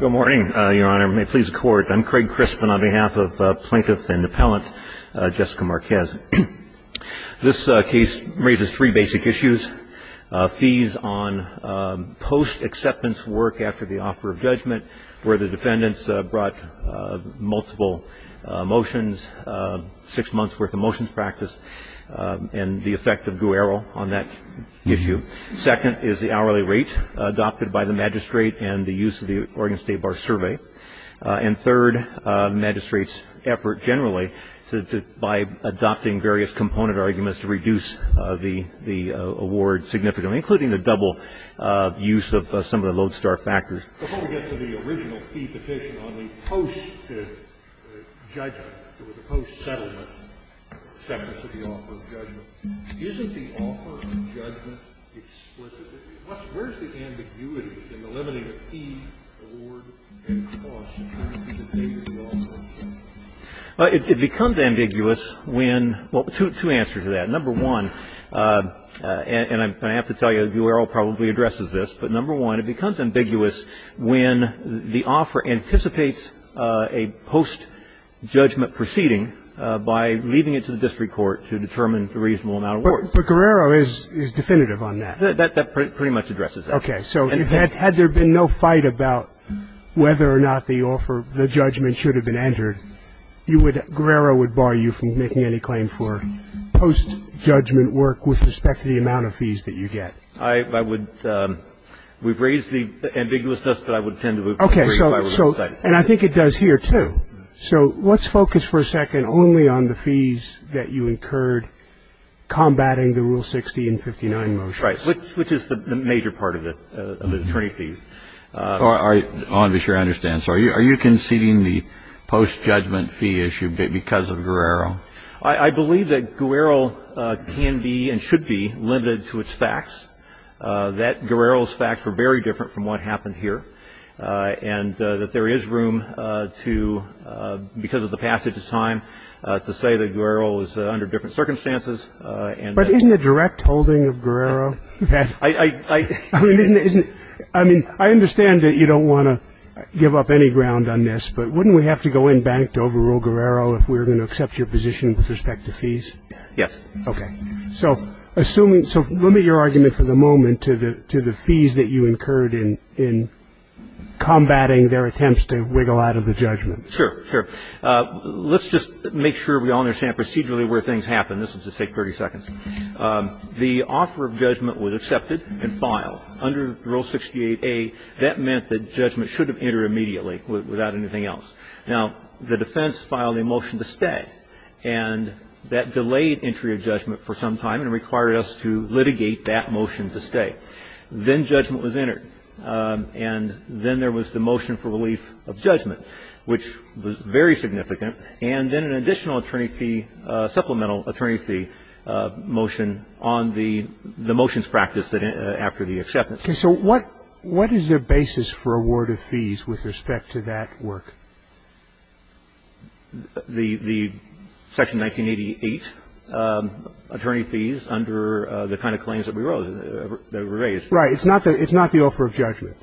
Good morning, Your Honor. May it please the Court. I'm Craig Crispin on behalf of Plaintiff and Appellant Jessica Marquez. This case raises three basic issues. Fees on post-acceptance work after the offer of judgment, where the defendants brought multiple motions, six months' worth of motions practice, and the effect of duero on that issue. Second is the hourly rate adopted by the magistrate and the use of the Oregon State Bar Survey. And third, the magistrate's effort generally by adopting various component arguments to reduce the award significantly, including the double use of some of the lodestar factors. Before we get to the original fee petition on the post-judgment or the post-settlement acceptance of the offer of judgment, isn't the offer of judgment explicit? Where's the ambiguity in the limiting of fee, award, and cost? Well, it becomes ambiguous when – well, two answers to that. Number one, and I have to tell you, the duero probably addresses this, but number one, it becomes ambiguous when the offer anticipates a post-judgment proceeding by leaving it to the district court to determine the reasonable amount of awards. But guerrero is definitive on that. That pretty much addresses that. Okay. So had there been no fight about whether or not the offer, the judgment should have been entered, you would – guerrero would bar you from making any claim for post-judgment work with respect to the amount of fees that you get. I would – we've raised the ambiguousness, but I would tend to agree if I were to decide. And I think it does here, too. So let's focus for a second only on the fees that you incurred combating the Rule 60 and 59 motions. Right. Which is the major part of it, of the attorney fees. I want to be sure I understand. So are you conceding the post-judgment fee issue because of guerrero? I believe that guerrero can be and should be limited to its facts, that guerrero's facts were very different from what happened here, and that there is room to, because of the passage of time, to say that guerrero is under different circumstances. But isn't it direct holding of guerrero? I mean, isn't – I mean, I understand that you don't want to give up any ground on this, but wouldn't we have to go in bank to overrule guerrero if we were going to accept your position with respect to fees? Yes. Okay. So assuming – so limit your argument for the moment to the fees that you incurred in combating their attempts to wiggle out of the judgment. Sure, sure. Let's just make sure we all understand procedurally where things happen. This will just take 30 seconds. The offer of judgment was accepted and filed. Under Rule 68a, that meant that judgment should have entered immediately without anything else. Now, the defense filed a motion to stay, and that delayed entry of judgment for some time and required us to litigate that motion to stay. Then judgment was entered, and then there was the motion for relief of judgment, which was very significant, and then an additional attorney fee, supplemental attorney fee motion on the motions practiced after the acceptance. Okay. So what is the basis for award of fees with respect to that work? The Section 1988 attorney fees under the kind of claims that we wrote, that were raised. Right. It's not the offer of judgment.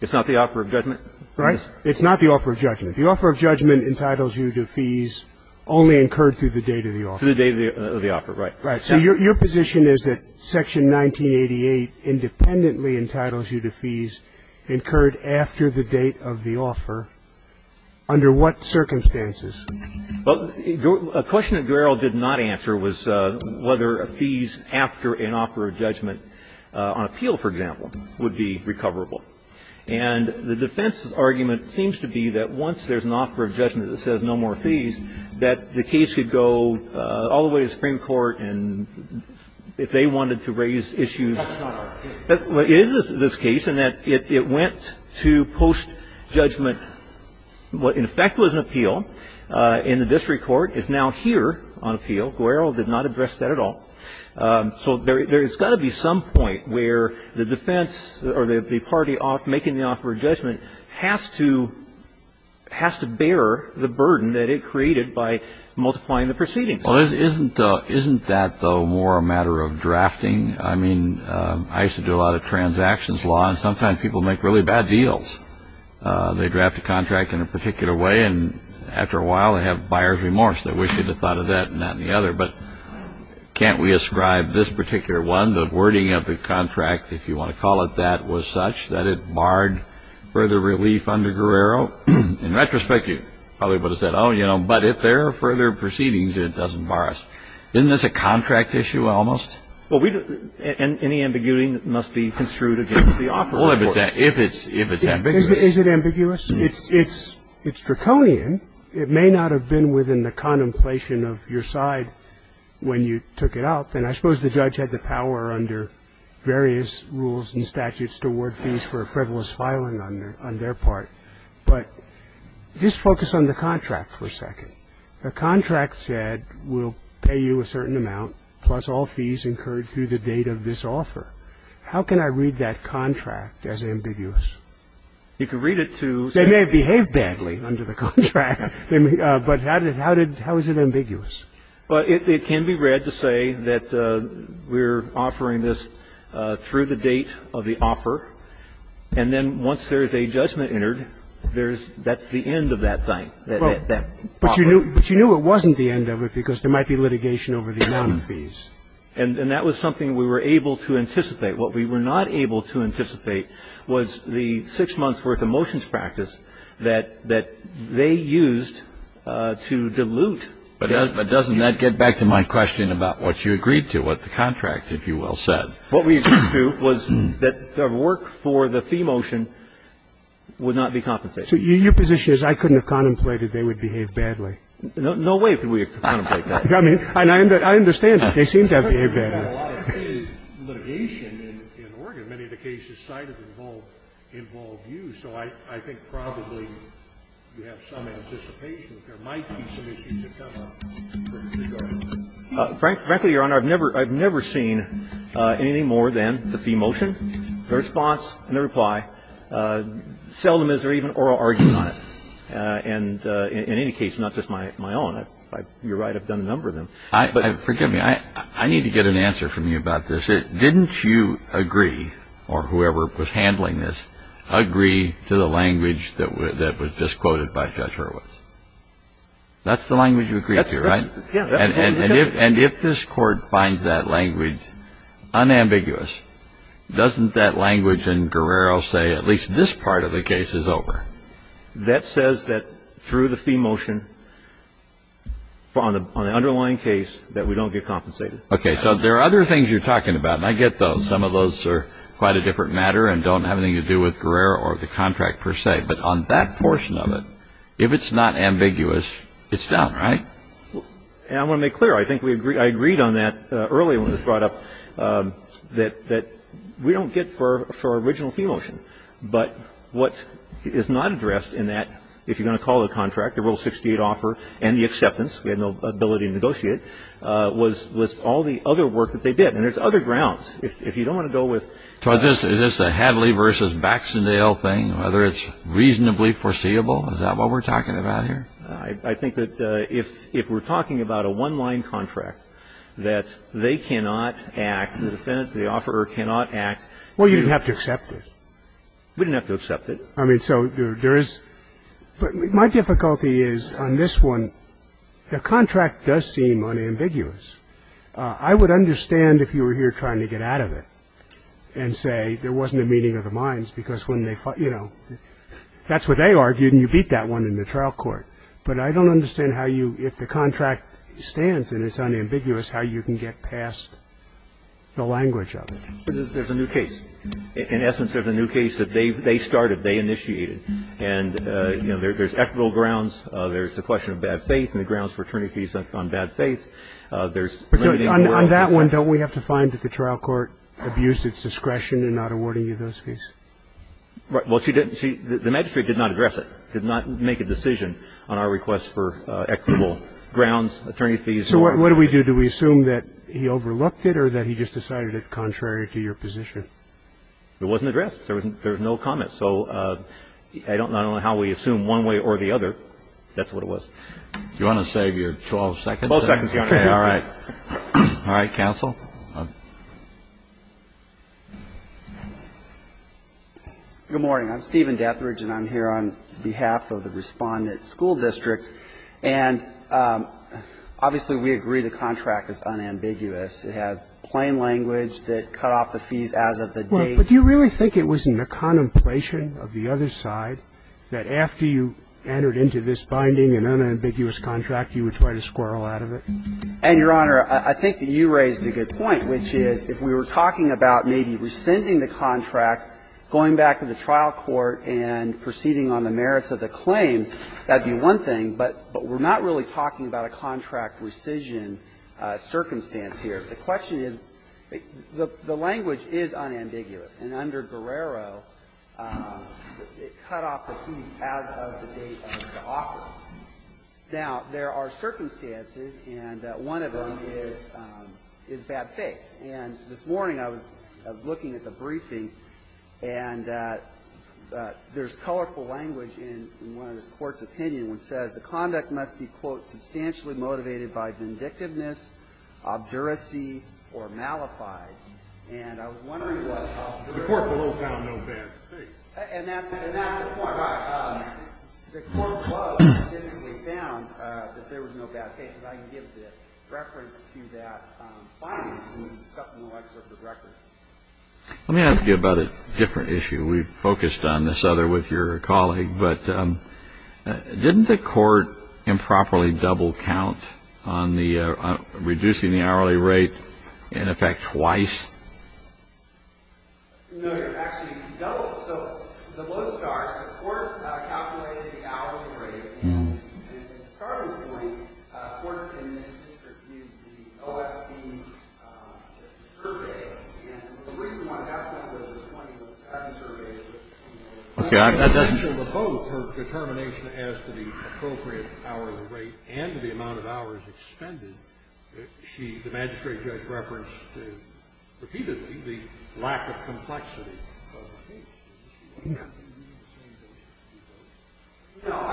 It's not the offer of judgment? Right. It's not the offer of judgment. The offer of judgment entitles you to fees only incurred through the date of the offer. Through the date of the offer, right. Right. So your position is that Section 1988 independently entitles you to fees incurred after the date of the offer? Under what circumstances? Well, a question that Guerrero did not answer was whether fees after an offer of judgment on appeal, for example, would be recoverable. And the defense's argument seems to be that once there's an offer of judgment that says no more fees, that the case could go all the way to Supreme Court and if they wanted to raise issues. That's not our case. It is this case in that it went to post-judgment. What in effect was an appeal in the district court is now here on appeal. Guerrero did not address that at all. So there's got to be some point where the defense or the party making the offer of judgment has to bear the burden that it created by multiplying the proceedings. Well, isn't that, though, more a matter of drafting? I mean, I used to do a lot of transactions law, and sometimes people make really bad deals. They draft a contract in a particular way, and after a while they have buyer's remorse. They wish they'd have thought of that and not any other. But can't we ascribe this particular one, the wording of the contract, if you want to call it that, was such that it barred further relief under Guerrero? In retrospect, you probably would have said, oh, you know, but if there are further proceedings, it doesn't bar us. Isn't this a contract issue almost? Well, any ambiguity must be construed against the offer. Well, if it's ambiguous. Is it ambiguous? It's draconian. It may not have been within the contemplation of your side when you took it up. And I suppose the judge had the power under various rules and statutes to award fees for a frivolous filing on their part. But just focus on the contract for a second. The contract said, we'll pay you a certain amount, plus all fees incurred through the date of this offer. How can I read that contract as ambiguous? You can read it to say that the contract is ambiguous. They may have behaved badly under the contract. But how is it ambiguous? Well, it can be read to say that we're offering this through the date of the offer, and then once there is a judgment entered, there's the end of that thing. But you knew it wasn't the end of it because there might be litigation over the amount of fees. And that was something we were able to anticipate. What we were not able to anticipate was the six months' worth of motions practice that they used to dilute. But doesn't that get back to my question about what you agreed to, what the contract, if you will, said? What we agreed to was that the work for the fee motion would not be compensated. So your position is I couldn't have contemplated they would behave badly? No way could we have contemplated that. I mean, and I understand that. They seem to have behaved badly. I mean, you have a lot of litigation in Oregon. Many of the cases cited involve you. So I think probably you have some anticipation that there might be some issues that come up. Frankly, Your Honor, I've never seen anything more than the fee motion, the response and the reply, seldom is there even oral argument on it. And in any case, not just my own. You're right, I've done a number of them. Forgive me. I need to get an answer from you about this. Didn't you agree, or whoever was handling this, agree to the language that was just quoted by Judge Hurwitz? That's the language you agreed to, right? And if this Court finds that language unambiguous, doesn't that language in Guerrero say at least this part of the case is over? That says that through the fee motion, on the underlying case, that we don't get compensated. Okay. So there are other things you're talking about. And I get those. Some of those are quite a different matter and don't have anything to do with Guerrero or the contract per se. But on that portion of it, if it's not ambiguous, it's done, right? And I want to make clear, I think I agreed on that earlier when it was brought up, that we don't get for our original fee motion. But what is not addressed in that, if you're going to call it a contract, the Rule 68 offer and the acceptance, we had no ability to negotiate, was all the other work that they did. And there's other grounds. If you don't want to go with the... So is this a Hadley versus Baxendale thing, whether it's reasonably foreseeable? Is that what we're talking about here? I think that if we're talking about a one-line contract, that they cannot act, the offerer cannot act... Well, you didn't have to accept it. We didn't have to accept it. I mean, so there is... My difficulty is on this one, the contract does seem unambiguous. I would understand if you were here trying to get out of it and say there wasn't a meeting of the minds because when they fought, you know, that's what they argued and you beat that one in the trial court. But I don't understand how you, if the contract stands and it's unambiguous, how you can get past the language of it. There's a new case. In essence, there's a new case that they started, they initiated. And, you know, there's equitable grounds. There's the question of bad faith and the grounds for attorney fees on bad faith. There's... On that one, don't we have to find that the trial court abused its discretion in not awarding you those fees? Well, she didn't. The magistrate did not address it, did not make a decision on our request for equitable grounds, attorney fees. So what do we do? Do we assume that he overlooked it or that he just decided it contrary to your position? It wasn't addressed. There was no comment. So I don't know how we assume one way or the other. That's what it was. Do you want to save your 12 seconds? 12 seconds, Your Honor. All right. All right. Counsel. Good morning. I'm Stephen Detheridge, and I'm here on behalf of the Respondent School District. And obviously, we agree the contract is unambiguous. It has plain language that cut off the fees as of the date. Well, but do you really think it was in the contemplation of the other side that after you entered into this binding and unambiguous contract, you would try to squirrel out of it? And, Your Honor, I think that you raised a good point, which is if we were talking about maybe rescinding the contract, going back to the trial court and proceeding on the merits of the claims, that would be one thing. But we're not really talking about a contract rescission circumstance here. The question is, the language is unambiguous. And under Guerrero, it cut off the fees as of the date of the offer. Now, there are circumstances, and one of them is bad faith. And this morning, I was looking at the briefing, and there's colorful language in one of this Court's opinions, which says the conduct must be, quote, substantially motivated by vindictiveness, obduracy, or malafides. And I was wondering what the court will do. The court below found no bad faith. And that's the point. The court below specifically found that there was no bad faith. And I can give the reference to that findings, and it's up in the legislature's records. Let me ask you about a different issue. We've focused on this other with your colleague. But didn't the court improperly double count on reducing the hourly rate, in effect, twice? No, Your Honor. Actually, double. So, the below stars, the court calculated the hourly rate. And at the starting point, courts in this district used the OSB survey. And the reason why that's not what it's pointing to is that I've surveyed it. Okay. In addition to both her determination as to the appropriate hourly rate and the amount of hours expended, she, the magistrate judge, referenced repeatedly the lack of complexity. Yeah. No.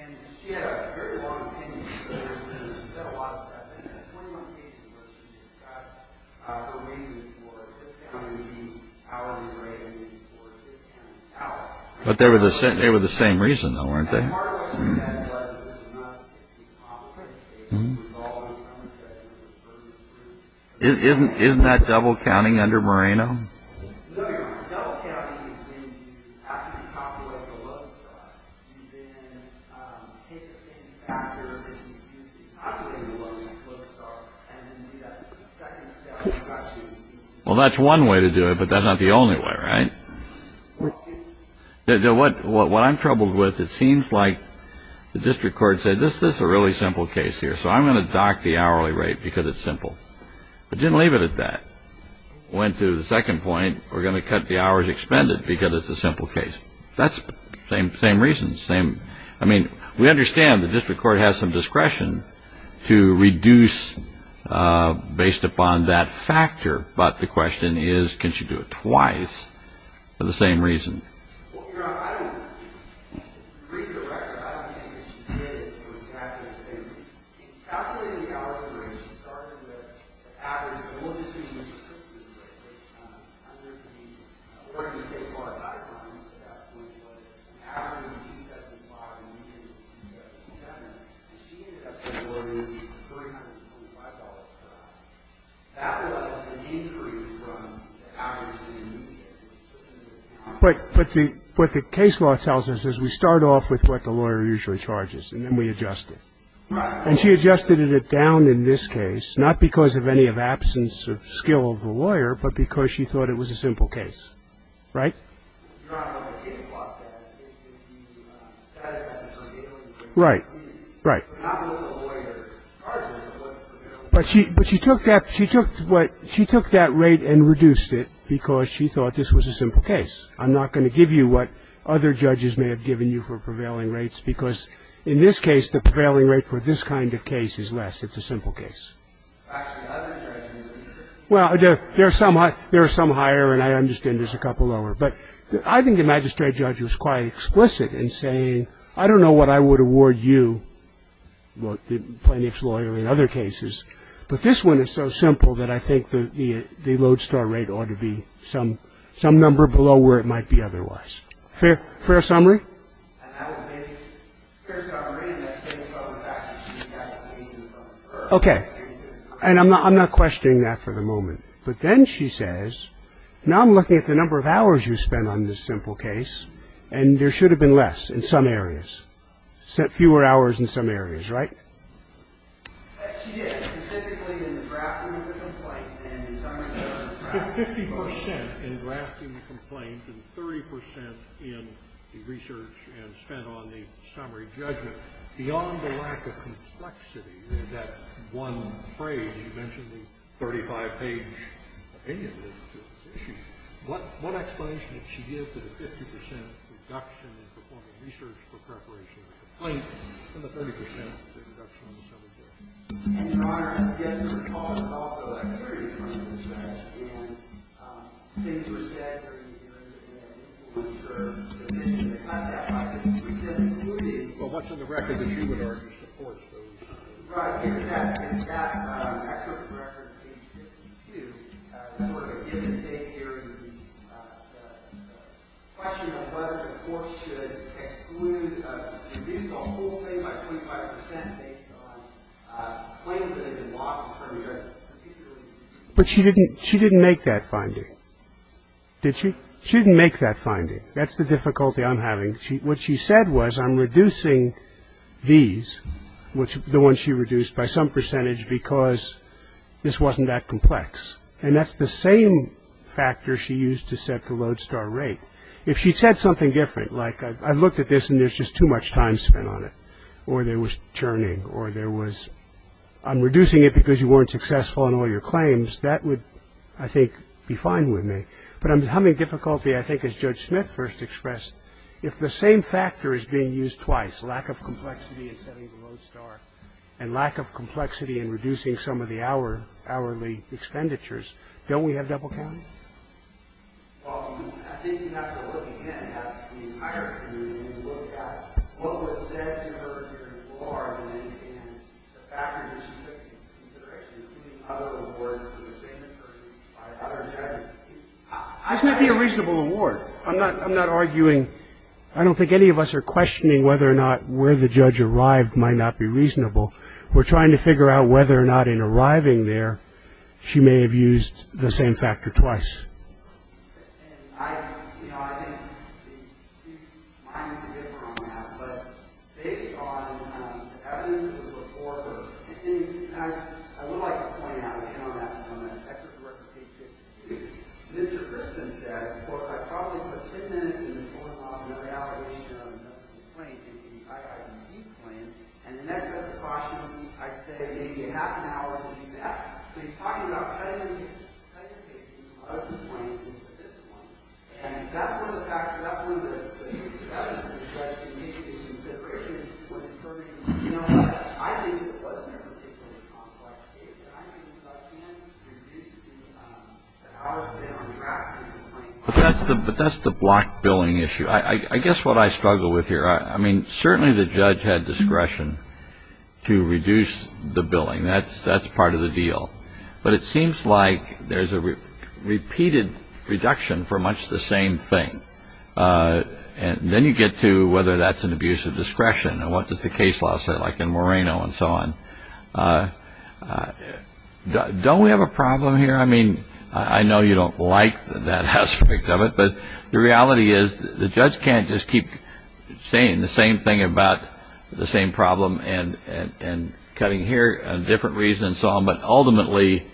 And she had a very long opinion. She said a lot of stuff. And there's 21 pages where she discussed the reasons for the hourly rate and the amount of hours. But they were the same reason, though, weren't they? And part of what she said was that it was not a complicated case. Isn't that double counting under Moreno? Well, that's one way to do it, but that's not the only way, right? What I'm troubled with, it seems like the district court said this is a really simple case here. So I'm going to dock the hourly rate because it's simple. It didn't leave it at that. It went to the second point, we're going to cut the hours expended because it's a simple case. That's the same reason. I mean, we understand the district court has some discretion to reduce based upon that factor. But the question is, can she do it twice for the same reason? But what the case law tells us is we start off with what the lawyer usually charges, and then we adjust it. And she adjusted it down in this case, not because of any absence of skill of the lawyer, but because she thought it was a simple case, right? Right, right. But she took that rate and reduced it because she thought this was a simple case. I'm not going to give you what other judges may have given you for prevailing rates because in this case, the prevailing rate for this kind of case is less. It's a simple case. Well, there are some higher, and I understand there's a couple lower. But I think the magistrate judge was quite explicit in saying, I don't know what I would award you, the plaintiff's lawyer, in other cases, but this one is so simple that I think the lodestar rate ought to be some number below where it might be otherwise. Fair summary? Okay. And I'm not questioning that for the moment. But then she says, now I'm looking at the number of hours you spent on this simple case, and there should have been less in some areas, fewer hours in some areas, right? She did, specifically in the drafting of the complaint and the summary judgment. Fifty percent in drafting the complaint and 30 percent in the research and spent on the summary judgment. Beyond the lack of complexity in that one phrase, you mentioned the 35-page opinion of this issue, what explanation did she give to the 50 percent reduction in performing research for preparation of the complaint and the 30 percent reduction in the summary judgment? And, Your Honor, again, the response was also a clear difference in fact, and things were said during the hearing that I think will ensure the submission of the contact documents. She said, including Well, what's on the record that she would argue supports those? Right. In fact, it's that excerpt from record, page 52, that's sort of a given day hearing the question of whether the court should exclude or reduce the whole thing by 25 percent based on claims that have been lost in summary judgment. But she didn't make that finding, did she? She didn't make that finding. That's the difficulty I'm having. What she said was, I'm reducing these, the ones she reduced by some percentage, because this wasn't that complex. And that's the same factor she used to set the lodestar rate. If she said something different, like, I looked at this and there's just too much time spent on it, or there was churning, or there was, I'm reducing it because you weren't successful in all your claims, that would, I think, be fine with me. But I'm having difficulty, I think, as Judge Smith first expressed, if the same factor is being used twice, lack of complexity in setting the lodestar and lack of complexity in reducing some of the hourly expenditures. Don't we have double counting? Well, I think you have to look again at the entire community and look at what was said to her during the law argument and the factors that she took into consideration, including other awards to the same person by other judges. This would be a reasonable award. I'm not arguing, I don't think any of us are questioning whether or not where the judge arrived might not be reasonable. We're trying to figure out whether or not in arriving there she may have used the same factor twice. And I, you know, I think mine is a bit more on that. But based on the evidence of the report, I would like to point out again on that, because I'm going to excerpt the record page 52, Mr. Gristin said, well, if I probably put 10 minutes in the court law on the reallocation of the claim into the IID claim, and in excess of caution, I'd say maybe a half an hour would do that. So he's talking about cutting the case from 12 to 22 for this one. And that's one of the factors, that's one of the huge factors that the judge took into consideration when deferring. You know, I think it wasn't a particularly complex case. I think if I can reduce the hours spent on drafting the claim. But that's the block billing issue. I guess what I struggle with here, I mean, certainly the judge had discretion to reduce the billing. That's part of the deal. But it seems like there's a repeated reduction for much the same thing. And then you get to whether that's an abuse of discretion and what does the case law say, like in Moreno and so on. Don't we have a problem here? I mean, I know you don't like that aspect of it, but the reality is the judge can't just keep saying the same thing about the same problem and cutting here a different reason and so on, but ultimately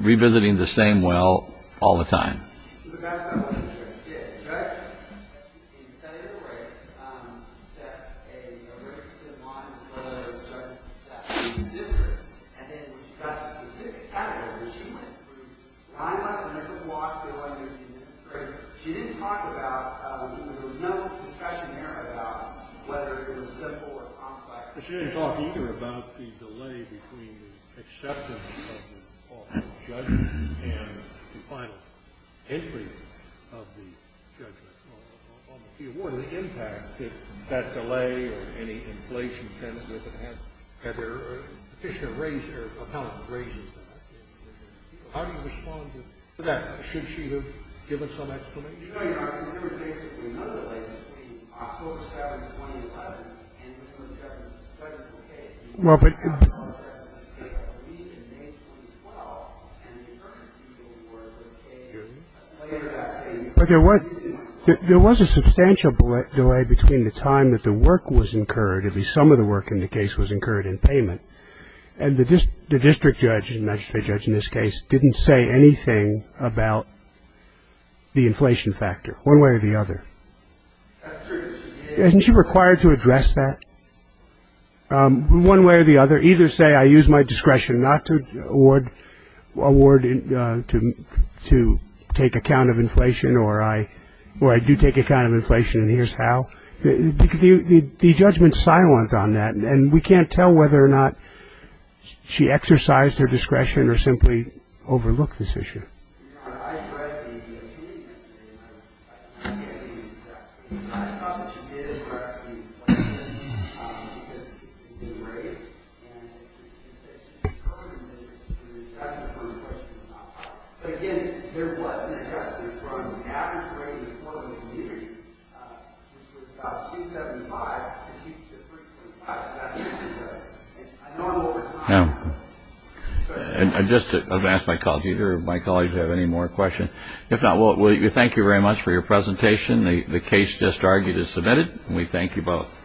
revisiting the same well all the time. The best I can say is that the judge, in setting up the rate, set a very consistent line for the judges to set. It was discrete. And then when she got to the specific category, she went through. I went through the block billing and it was great. She didn't talk about, there was no discussion there about whether it was simple or complex. She didn't talk either about the delay between the acceptance of the judgment and the final entry of the judgment on the fee award or the impact of that delay or any inflation with it. Had there been a petitioner raised or an accountant raised that? How do you respond to that? Should she have given some explanation? You're telling me there was basically no delay between October 7th, 2011, and when the judge took the case. Well, but... October 7th, 2012, and the deferment fee award was paid later that same year. There was a substantial delay between the time that the work was incurred, at least some of the work in the case was incurred in payment, and the district judge, the magistrate judge in this case, didn't say anything about the inflation factor, one way or the other. That's true. Isn't she required to address that? One way or the other, either say, I use my discretion not to award to take account of inflation, or I do take account of inflation and here's how. The judgment's silent on that, and we can't tell whether or not she exercised her discretion or simply overlooked this issue. I read the opinion yesterday, and I can't think of anything to say. I thought that she did address the inflation issue, because it was raised, and it was said that she incurred an inflation, and that's the first question that popped up. But again, there wasn't a testament from the average rate of inflation in the community, which was about 275 to 325. So that's just a normal time frame. I'm going to ask my colleagues here if they have any more questions. If not, we thank you very much for your presentation. The case just argued is submitted, and we thank you both.